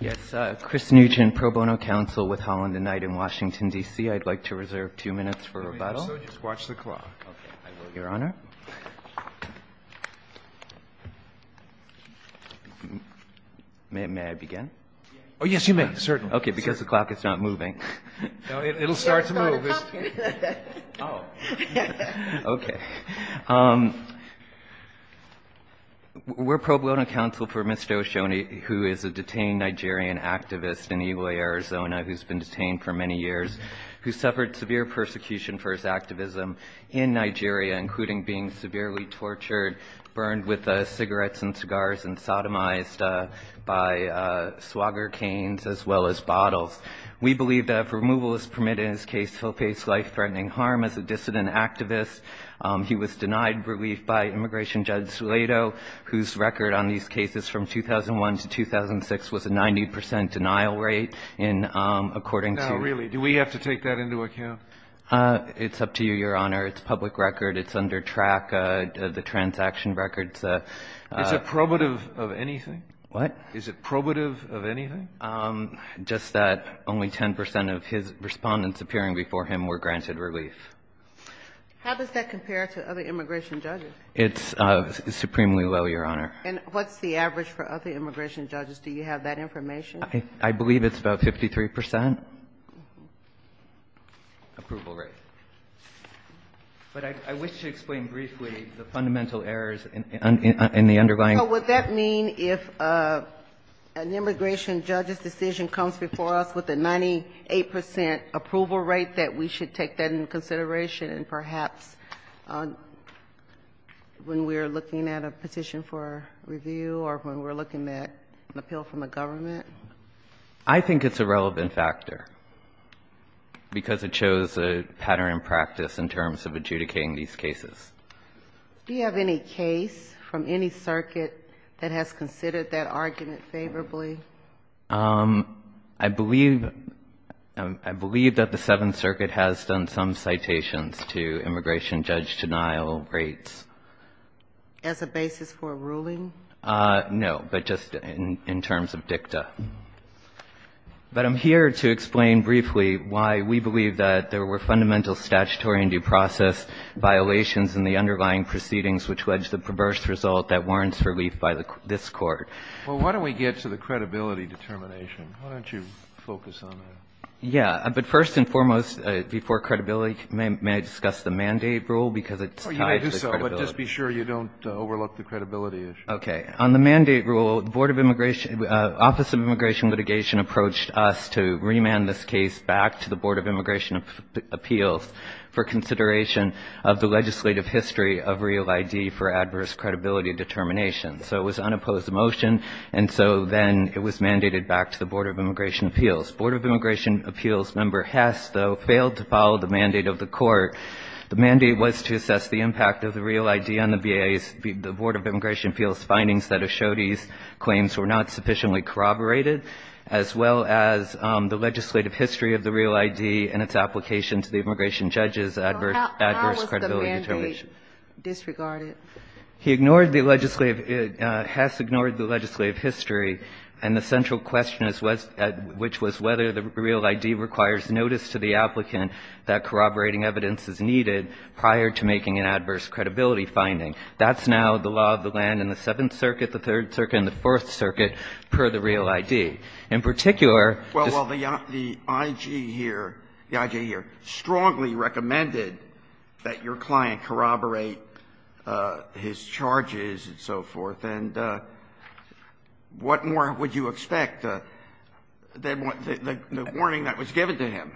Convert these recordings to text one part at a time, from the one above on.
Yes, Chris Nugent, pro bono counsel with Holland and Knight in Washington, D.C. I'd like to reserve two minutes for rebuttal. Just watch the clock. Your Honor. May I begin? Oh, yes, you may, certainly. Okay, because the clock is not moving. No, it'll start to move. Oh, okay. We're pro bono counsel for Mr. Oshodi, who is a detained Nigerian activist in Igboy, Arizona, who's been detained for many years, who suffered severe persecution for his activism in Nigeria, including being severely tortured, burned with cigarettes and cigars, and sodomized by swagger canes as well as bottles. We believe that if removal is permitted in his case, he'll face life-threatening harm as a dissident activist. He was denied relief by immigration judge Slato, whose record on these cases from 2001 to 2006 was a 90 percent denial rate, and according to – No, really. Do we have to take that into account? It's up to you, Your Honor. It's public record. It's under TRAC, the transaction records. Is it probative of anything? What? Is it probative of anything? Just that only 10 percent of his respondents appearing before him were granted relief. How does that compare to other immigration judges? It's supremely low, Your Honor. And what's the average for other immigration judges? Do you have that information? I believe it's about 53 percent approval rate. But I wish to explain briefly the fundamental errors in the underlying – So would that mean if an immigration judge's decision comes before us with a 98 percent approval rate, that we should take that into consideration, and perhaps when we're looking at a petition for review or when we're looking at an appeal from the government? I think it's a relevant factor because it shows a pattern in practice in terms of adjudicating these cases. Do you have any case from any circuit that has considered that argument favorably? I believe that the Seventh Circuit has done some citations to immigration judge denial rates. As a basis for a ruling? No, but just in terms of dicta. But I'm here to explain briefly why we believe that there were fundamental statutory and due process violations in the underlying proceedings which led to the perverse result that warrants relief by this Court. Well, why don't we get to the credibility determination? Why don't you focus on that? Yeah. But first and foremost, before credibility, may I discuss the mandate rule? Because it's tied to credibility. Oh, you may do so, but just be sure you don't overlook the credibility issue. Okay. On the mandate rule, the Board of Immigration – Office of Immigration Litigation approached us to remand this case back to the Board of Immigration Appeals for consideration of the legislative history of real ID for adverse credibility determination. So it was unopposed to the motion, and so then it was mandated back to the Board of Immigration Appeals. Board of Immigration Appeals member Hess, though, failed to follow the mandate of the Court. The mandate was to assess the impact of the real ID on the BIA's – the Board of Immigration Appeals' findings that Ashodi's claims were not sufficiently corroborated as well as the legislative history of the real ID and its application to the immigration judge's adverse credibility determination. So how was the mandate disregarded? He ignored the legislative – Hess ignored the legislative history, and the central question is what's – which was whether the real ID requires notice to the applicant that corroborating evidence is needed prior to making an adverse credibility finding. That's now the law of the land in the Seventh Circuit, the Third Circuit, and the Fourth Circuit, per the real ID. In particular – Well, the IG here – the IG here strongly recommended that your client corroborate his charges and so forth. And what more would you expect than the warning that was given to him?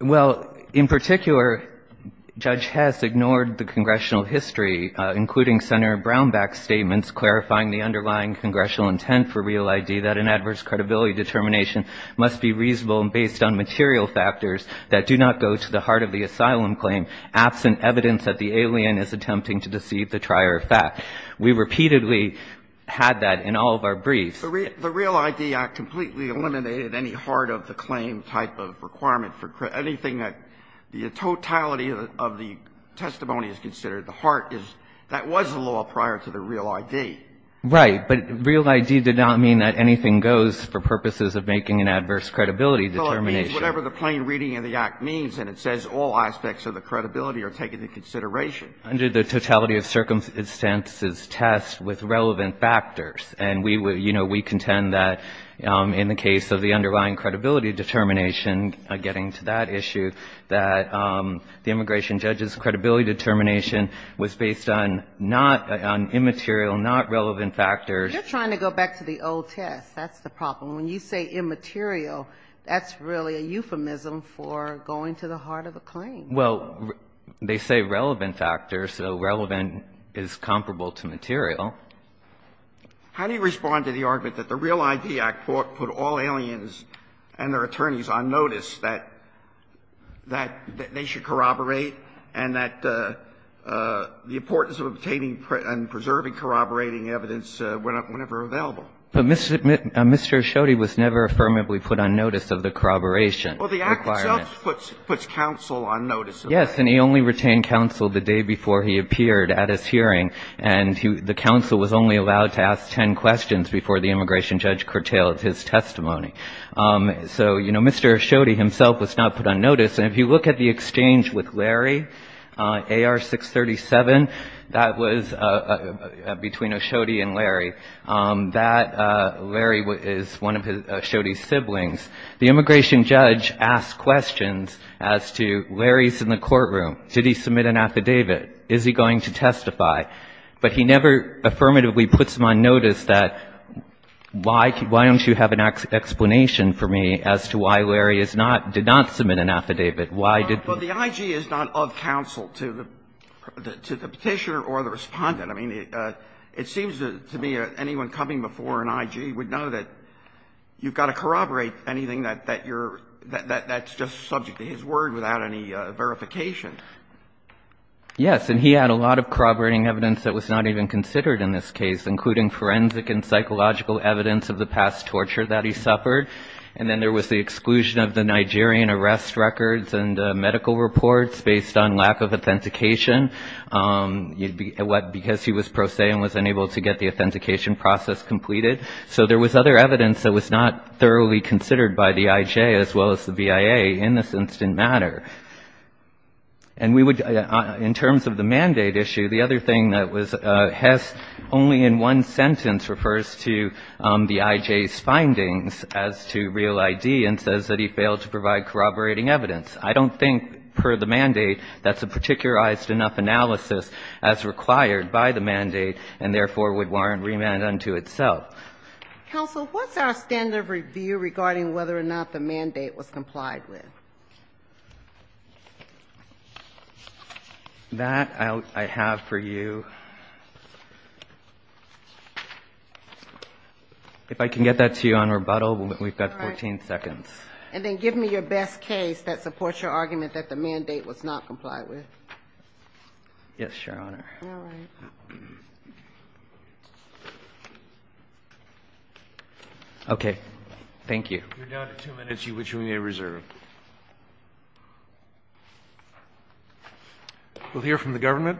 Well, in particular, Judge Hess ignored the congressional history, including Senator Brownback's statements clarifying the underlying congressional intent for real ID that an adverse credibility determination must be reasonable and based on material prior fact. We repeatedly had that in all of our briefs. The Real ID Act completely eliminated any heart of the claim type of requirement for anything that the totality of the testimony is considered. The heart is – that was the law prior to the real ID. Right. But real ID did not mean that anything goes for purposes of making an adverse credibility determination. Well, it means whatever the plain reading of the Act means, and it says all aspects of the credibility are taken into consideration. Under the totality of circumstances test with relevant factors. And we, you know, we contend that in the case of the underlying credibility determination, getting to that issue, that the immigration judge's credibility determination was based on not – on immaterial, not relevant factors. You're trying to go back to the old test. That's the problem. When you say immaterial, that's really a euphemism for going to the heart of a claim. Well, they say relevant factors, so relevant is comparable to material. How do you respond to the argument that the Real ID Act put all aliens and their attorneys on notice that – that they should corroborate and that the importance of obtaining and preserving corroborating evidence whenever available? But Mr. Asciotti was never affirmably put on notice of the corroboration requirement. He himself puts counsel on notice of that. Yes, and he only retained counsel the day before he appeared at his hearing. And he – the counsel was only allowed to ask ten questions before the immigration judge curtailed his testimony. So, you know, Mr. Asciotti himself was not put on notice. And if you look at the exchange with Larry, AR 637, that was between Asciotti and Larry, that Larry is one of Asciotti's siblings. The immigration judge asked questions as to Larry's in the courtroom. Did he submit an affidavit? Is he going to testify? But he never affirmatively puts him on notice that why – why don't you have an explanation for me as to why Larry is not – did not submit an affidavit? Why did he? Well, the IG is not of counsel to the Petitioner or the Respondent. I mean, it seems to me anyone coming before an IG would know that you've got to corroborate anything that you're – that's just subject to his word without any verification. Yes. And he had a lot of corroborating evidence that was not even considered in this case, including forensic and psychological evidence of the past torture that he suffered. And then there was the exclusion of the Nigerian arrest records and medical reports based on lack of authentication, because he was pro se and was unable to get the authentication process completed. So there was other evidence that was not thoroughly considered by the IG as well as the BIA in this instant matter. And we would – in terms of the mandate issue, the other thing that was – Hess only in one sentence refers to the IG's findings as to real ID and says that he failed to provide corroborating evidence. I don't think per the mandate that's a particularized enough analysis as required by the mandate and therefore would warrant remand unto itself. Counsel, what's our standard of review regarding whether or not the mandate was complied with? That I have for you – if I can get that to you on rebuttal, we've got 14 seconds. And then give me your best case that supports your argument that the mandate was not complied with. Yes, Your Honor. All right. Okay. Thank you. You're down to two minutes, which we may reserve. We'll hear from the government.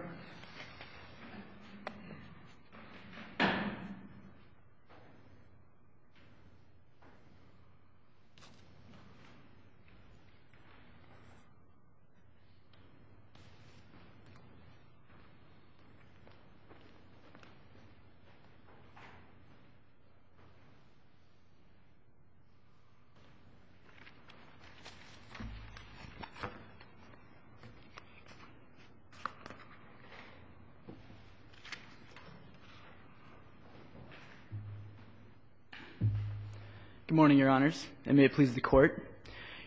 Good morning, Your Honors, and may it please the Court.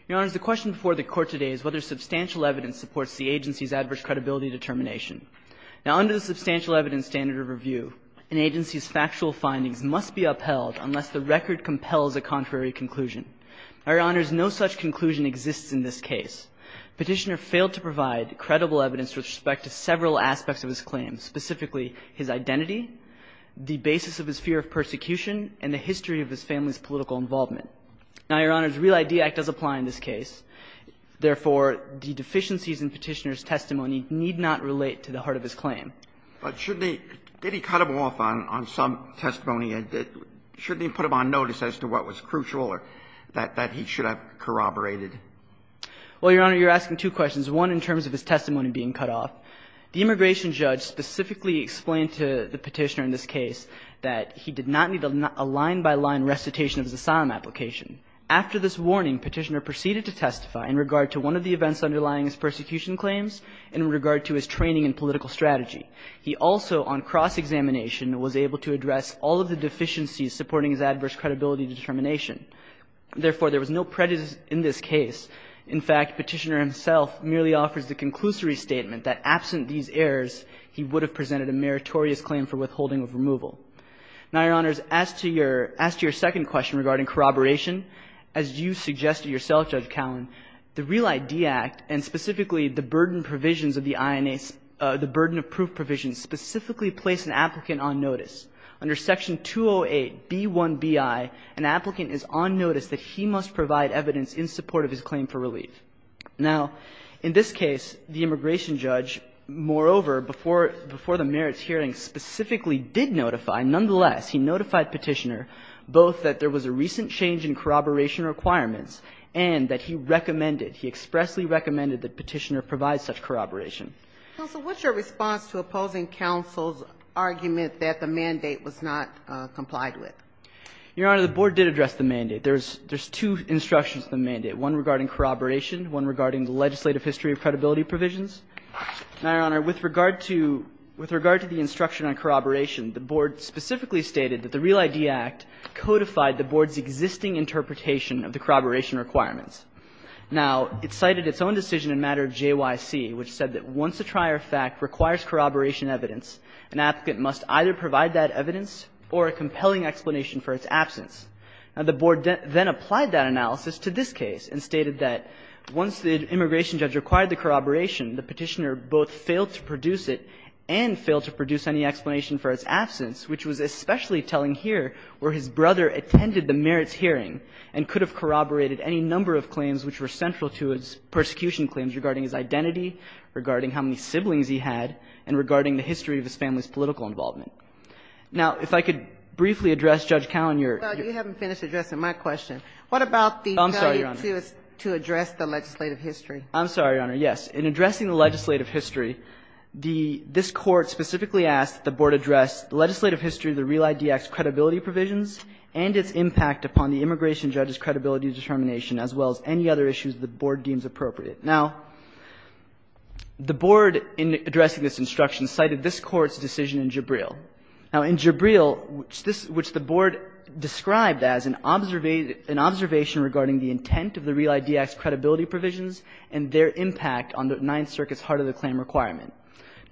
Your Honors, the question before the Court today is whether substantial evidence supports the agency's adverse credibility determination. Now, under the substantial evidence standard of review, an agency's factual findings must be upheld unless the record compels a contrary conclusion. Now, Your Honors, no such conclusion exists in this case. Petitioner failed to provide credible evidence with respect to several aspects of his claim, specifically his identity, the basis of his fear of persecution, and the history of his family's political involvement. Now, Your Honors, Real ID Act does apply in this case. Therefore, the deficiencies in Petitioner's testimony need not relate to the heart of his claim. But shouldn't he – did he cut him off on some testimony? Shouldn't he put him on notice as to what was crucial or that he should have corroborated? Well, Your Honor, you're asking two questions, one in terms of his testimony being cut off. The immigration judge specifically explained to the Petitioner in this case that he did not need a line-by-line recitation of his asylum application. After this warning, Petitioner proceeded to testify in regard to one of the events underlying his persecution claims in regard to his training in political strategy. He also, on cross-examination, was able to address all of the deficiencies supporting his adverse credibility determination. Therefore, there was no prejudice in this case. In fact, Petitioner himself merely offers the conclusory statement that absent these errors, he would have presented a meritorious claim for withholding of removal. Now, Your Honors, as to your – as to your second question regarding corroboration, as you suggested yourself, Judge Cowan, the Real ID Act and specifically the burden provisions of the INA's – the burden of proof provisions specifically place an applicant on notice. Under Section 208B1bi, an applicant is on notice that he must provide evidence in support of his claim for relief. Now, in this case, the immigration judge, moreover, before – before the merits hearing specifically did notify, nonetheless, he notified Petitioner both that there was a recent change in corroboration requirements and that he recommended, he expressly recommended that Petitioner provide such corroboration. Counsel, what's your response to opposing counsel's argument that the mandate was not complied with? Your Honor, the board did address the mandate. There's – there's two instructions to the mandate, one regarding corroboration, one regarding the legislative history of credibility provisions. Now, Your Honor, with regard to – with regard to the instruction on corroboration, the board specifically stated that the Real ID Act codified the board's existing interpretation of the corroboration requirements. Now, it cited its own decision in matter of JYC, which said that once a trier fact requires corroboration evidence, an applicant must either provide that evidence or a compelling explanation for its absence. Now, the board then applied that analysis to this case and stated that once the immigration judge required the corroboration, the Petitioner both failed to produce it and failed to produce any explanation for its absence, which was especially telling here where his brother attended the merits hearing and could have corroborated any number of claims which were central to his persecution claims regarding his identity, regarding how many siblings he had, and regarding the history of his family's political involvement. Now, if I could briefly address, Judge Callan, your – Well, you haven't finished addressing my question. What about the – Oh, I'm sorry, Your Honor. To address the legislative history? I'm sorry, Your Honor. Yes. In addressing the legislative history, the – this Court specifically asked that the board address legislative history of the Real ID Act's credibility provisions and its impact upon the immigration judge's credibility determination, as well as any other issues the board deems appropriate. Now, the board, in addressing this instruction, cited this Court's decision in Jabril. Now, in Jabril, which this – which the board described as an observation regarding the intent of the Real ID Act's credibility provisions and their impact on the Ninth Circuit's heart-of-the-claim requirement.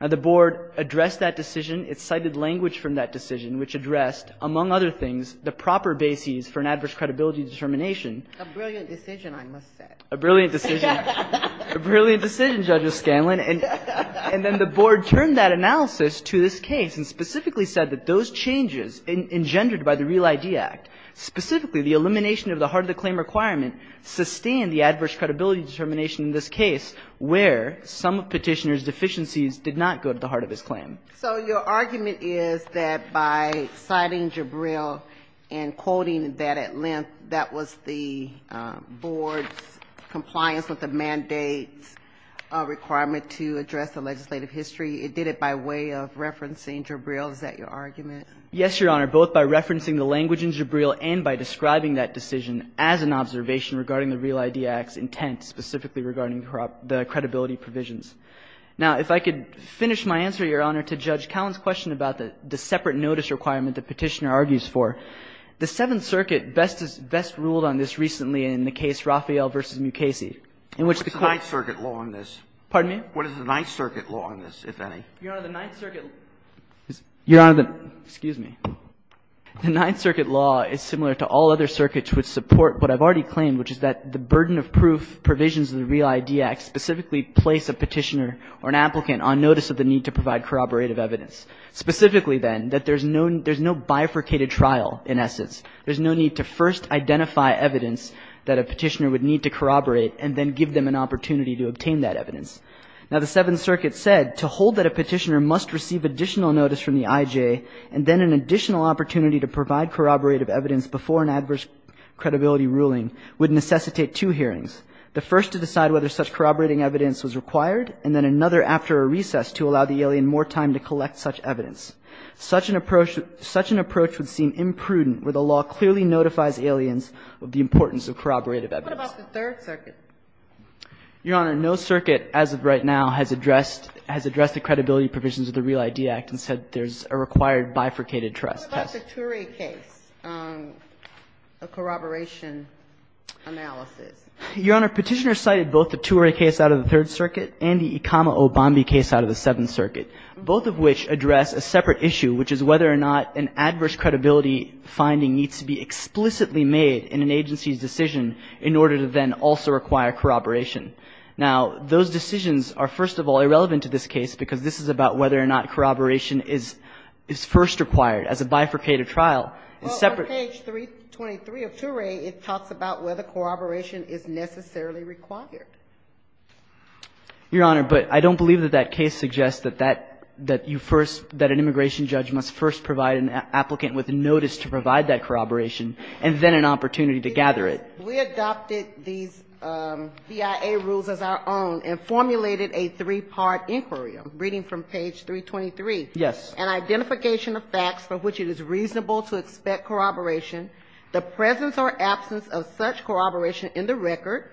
Now, the board addressed that decision. It cited language from that decision, which addressed, among other things, the proper bases for an adverse credibility determination. A brilliant decision, I must say. A brilliant decision. A brilliant decision, Judge Scanlon. And then the board turned that analysis to this case and specifically said that those changes engendered by the Real ID Act, specifically the elimination of the heart-of-the-claim requirement, sustain the adverse credibility determination in this case, where some Petitioner's deficiencies did not go to the heart-of-his-claim. So your argument is that by citing Jabril and quoting that at length, that was the board's compliance with the mandate requirement to address the legislative history. It did it by way of referencing Jabril. Is that your argument? Yes, Your Honor, both by referencing the language in Jabril and by describing that decision as an observation regarding the Real ID Act's intent, specifically regarding the credibility provisions. Now, if I could finish my answer, Your Honor, to Judge Cowan's question about the separate notice requirement that Petitioner argues for. The Seventh Circuit best ruled on this recently in the case Raphael v. Mukasey, in which the court What's the Ninth Circuit law on this? Pardon me? What is the Ninth Circuit law on this, if any? Your Honor, the Ninth Circuit law is similar to all other circuits which support what I've already claimed, which is that the burden of proof provisions of the Real ID Act is to hold a Petitioner or an applicant on notice of the need to provide corroborative evidence. Specifically, then, that there's no bifurcated trial in essence. There's no need to first identify evidence that a Petitioner would need to corroborate and then give them an opportunity to obtain that evidence. Now, the Seventh Circuit said to hold that a Petitioner must receive additional notice from the IJ and then an additional opportunity to provide corroborative evidence before an adverse credibility ruling would necessitate two hearings. The first to decide whether such corroborating evidence was required, and then another after a recess to allow the alien more time to collect such evidence. Such an approach would seem imprudent where the law clearly notifies aliens of the importance of corroborative evidence. What about the Third Circuit? Your Honor, no circuit as of right now has addressed the credibility provisions of the Real ID Act and said there's a required bifurcated test. What about the Ture case, a corroboration analysis? Your Honor, Petitioner cited both the Ture case out of the Third Circuit and the Ikama O'Bombie case out of the Seventh Circuit, both of which address a separate issue, which is whether or not an adverse credibility finding needs to be explicitly made in an agency's decision in order to then also require corroboration. Now, those decisions are, first of all, irrelevant to this case because this is about whether or not corroboration is first required as a bifurcated trial. It's separate. Well, on page 323 of Ture, it talks about whether corroboration is necessarily required. Your Honor, but I don't believe that that case suggests that that you first, that an immigration judge must first provide an applicant with notice to provide that corroboration and then an opportunity to gather it. We adopted these BIA rules as our own and formulated a three-part inquiry. I'm reading from page 323. Yes. An identification of facts for which it is reasonable to expect corroboration, the presence or absence of such corroboration in the record,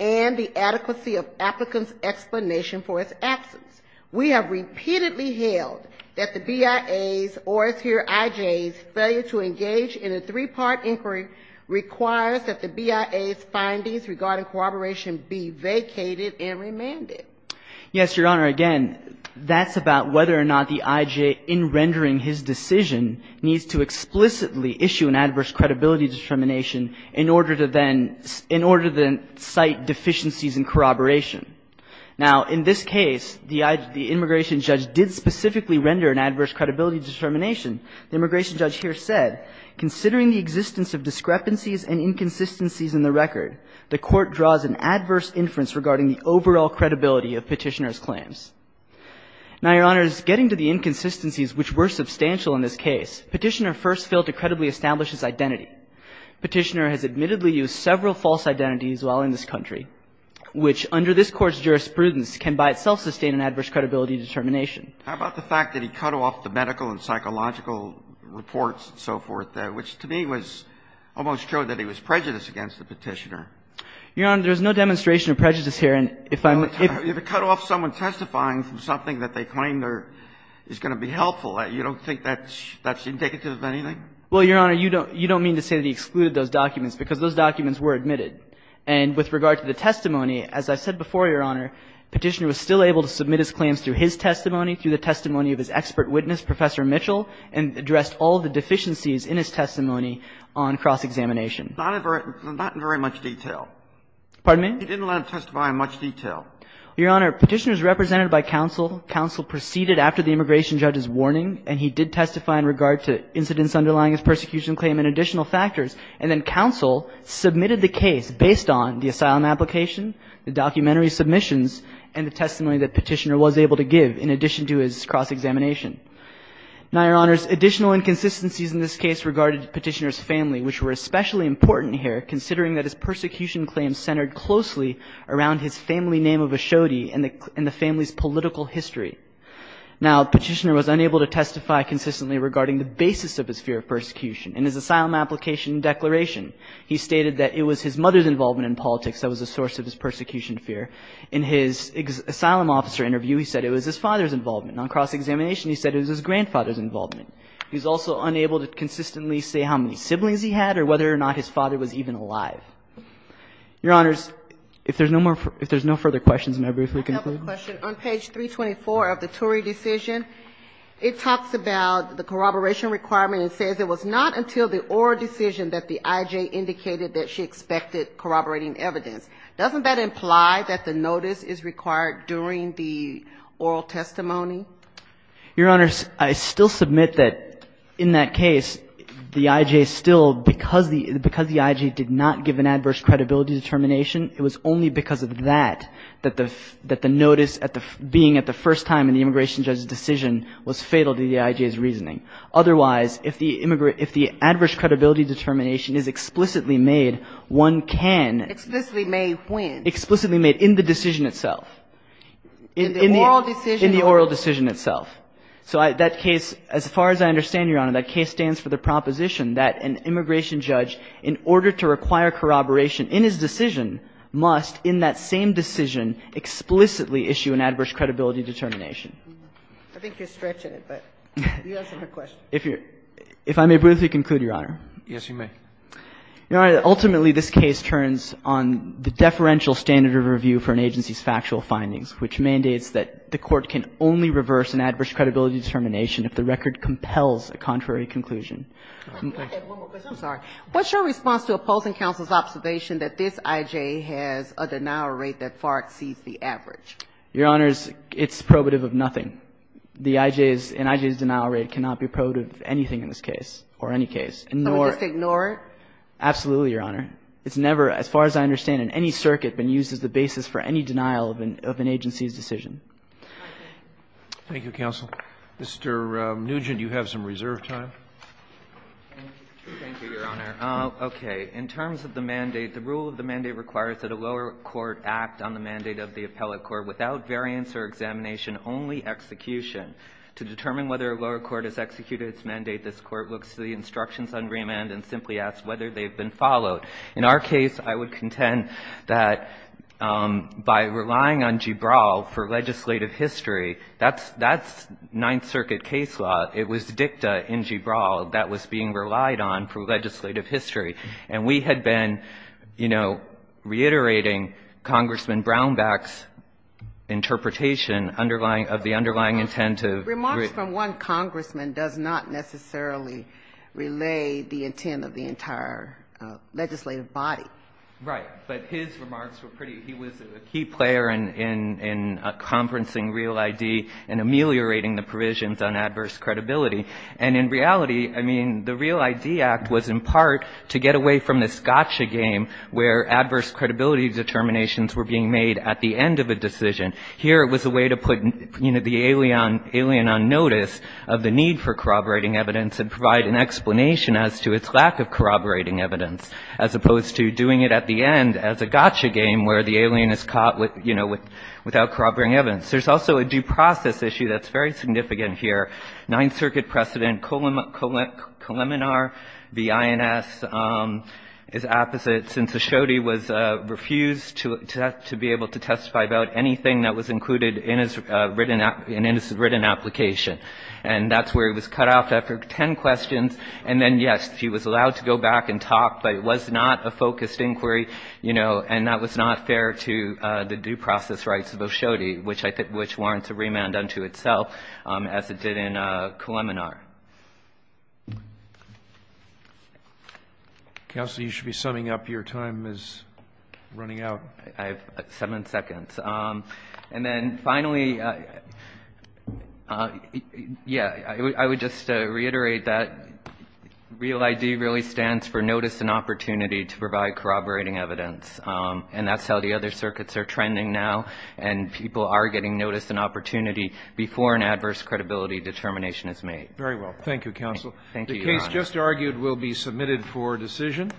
and the adequacy of applicant's explanation for its absence. We have repeatedly held that the BIA's, or as here IJ's, failure to engage in a three-part inquiry requires that the BIA's findings regarding corroboration be vacated and remanded. Yes, Your Honor. Again, that's about whether or not the IJ, in rendering his decision, needs to explicitly issue an adverse credibility determination in order to then cite deficiencies in corroboration. Now, in this case, the immigration judge did specifically render an adverse credibility determination. The immigration judge here said, Considering the existence of discrepancies and inconsistencies in the record, the Court draws an adverse inference regarding the overall credibility of Petitioner's claims. Now, Your Honor, getting to the inconsistencies which were substantial in this case, Petitioner first failed to credibly establish his identity. Petitioner has admittedly used several false identities while in this country, which under this Court's jurisprudence can by itself sustain an adverse credibility determination. How about the fact that he cut off the medical and psychological reports and so forth, which to me was almost true that he was prejudiced against the Petitioner? Your Honor, there's no demonstration of prejudice here. And if I'm going to cut off someone testifying from something that they claim is going to be helpful, you don't think that's indicative of anything? Well, Your Honor, you don't mean to say that he excluded those documents, because those documents were admitted. And with regard to the testimony, as I said before, Your Honor, Petitioner was still able to submit his claims through his testimony, through the testimony of his expert on cross-examination. in his testimony on cross-examination. Not in very much detail. Pardon me? He didn't let us testify in much detail. Your Honor, Petitioner is represented by counsel. Counsel proceeded after the immigration judge's warning, and he did testify in regard to incidents underlying his persecution claim and additional factors. And then counsel submitted the case based on the asylum application, the documentary submissions, and the testimony that Petitioner was able to give, in addition to his cross-examination. Now, Your Honor, additional inconsistencies in this case regarded Petitioner's family, which were especially important here, considering that his persecution claims centered closely around his family name of a shoddy and the family's political history. Now, Petitioner was unable to testify consistently regarding the basis of his fear of persecution. In his asylum application declaration, he stated that it was his mother's involvement in politics that was a source of his persecution fear. In his asylum officer interview, he said it was his father's involvement. And on cross-examination, he said it was his grandfather's involvement. He was also unable to consistently say how many siblings he had or whether or not his father was even alive. Your Honors, if there's no further questions, may I briefly conclude? I have a question. On page 324 of the Ture decision, it talks about the corroboration requirement and says, it was not until the oral decision that the I.J. indicated that she expected corroborating evidence. Doesn't that imply that the notice is required during the oral testimony? Your Honors, I still submit that in that case, the I.J. still, because the I.J. did not give an adverse credibility determination, it was only because of that that the notice being at the first time in the immigration judge's decision was fatal to the I.J.'s reasoning. Otherwise, if the adverse credibility determination is explicitly made, one can. Explicitly made when? Explicitly made in the decision itself. In the oral decision? In the oral decision itself. So that case, as far as I understand, Your Honor, that case stands for the proposition that an immigration judge, in order to require corroboration in his decision, must in that same decision explicitly issue an adverse credibility determination. I think you're stretching it, but you answered her question. If I may briefly conclude, Your Honor. Yes, you may. Ultimately, this case turns on the deferential standard of review for an agency's factual findings, which mandates that the Court can only reverse an adverse credibility determination if the record compels a contrary conclusion. I have one more question. I'm sorry. What's your response to opposing counsel's observation that this I.J. has a denial rate that far exceeds the average? Your Honor, it's probative of nothing. The I.J.'s and I.J.'s denial rate cannot be probative of anything in this case, or any case. So we just ignore it? Absolutely, Your Honor. It's never, as far as I understand, in any circuit been used as the basis for any denial of an agency's decision. Thank you, counsel. Mr. Nugent, you have some reserve time. Thank you, Your Honor. Okay. In terms of the mandate, the rule of the mandate requires that a lower court act on the mandate of the appellate court without variance or examination, only execution. To determine whether a lower court has executed its mandate, this Court looks to the instructions on remand and simply asks whether they've been followed. In our case, I would contend that by relying on Gibral for legislative history, that's Ninth Circuit case law. It was dicta in Gibral that was being relied on for legislative history. And we had been, you know, reiterating Congressman Brownback's interpretation underlying of the underlying intent of written. Remarks from one congressman does not necessarily relay the intent of the entire legislative body. Right. But his remarks were pretty, he was a key player in conferencing real ID and ameliorating the provisions on adverse credibility. And in reality, I mean, the Real ID Act was in part to get away from this gotcha game where adverse credibility determinations were being made at the end of a decision. Here it was a way to put, you know, the alien on notice of the need for corroborating evidence and provide an explanation as to its lack of corroborating evidence, as opposed to doing it at the end as a gotcha game where the alien is caught, you know, without corroborating evidence. There's also a due process issue that's very significant here. Ninth Circuit precedent, Coleminar v. INS, is opposite, since O'Shodey was refused to be able to testify about anything that was included in his written application. And that's where he was cut off after ten questions. And then, yes, he was allowed to go back and talk, but it was not a focused inquiry, you know, and that was not fair to the due process rights of O'Shodey, which I think warrants a remand unto itself, as it did in Coleminar. Counsel, you should be summing up. Your time is running out. I have seven seconds. And then finally, yeah, I would just reiterate that REAL ID really stands for Notice and Opportunity to Provide Corroborating Evidence, and that's how the other circuits are trending now, and people are getting notice and opportunity before an adverse credibility determination is made. Very well. Thank you, counsel. Thank you, Your Honor. The case just argued will be submitted for decision.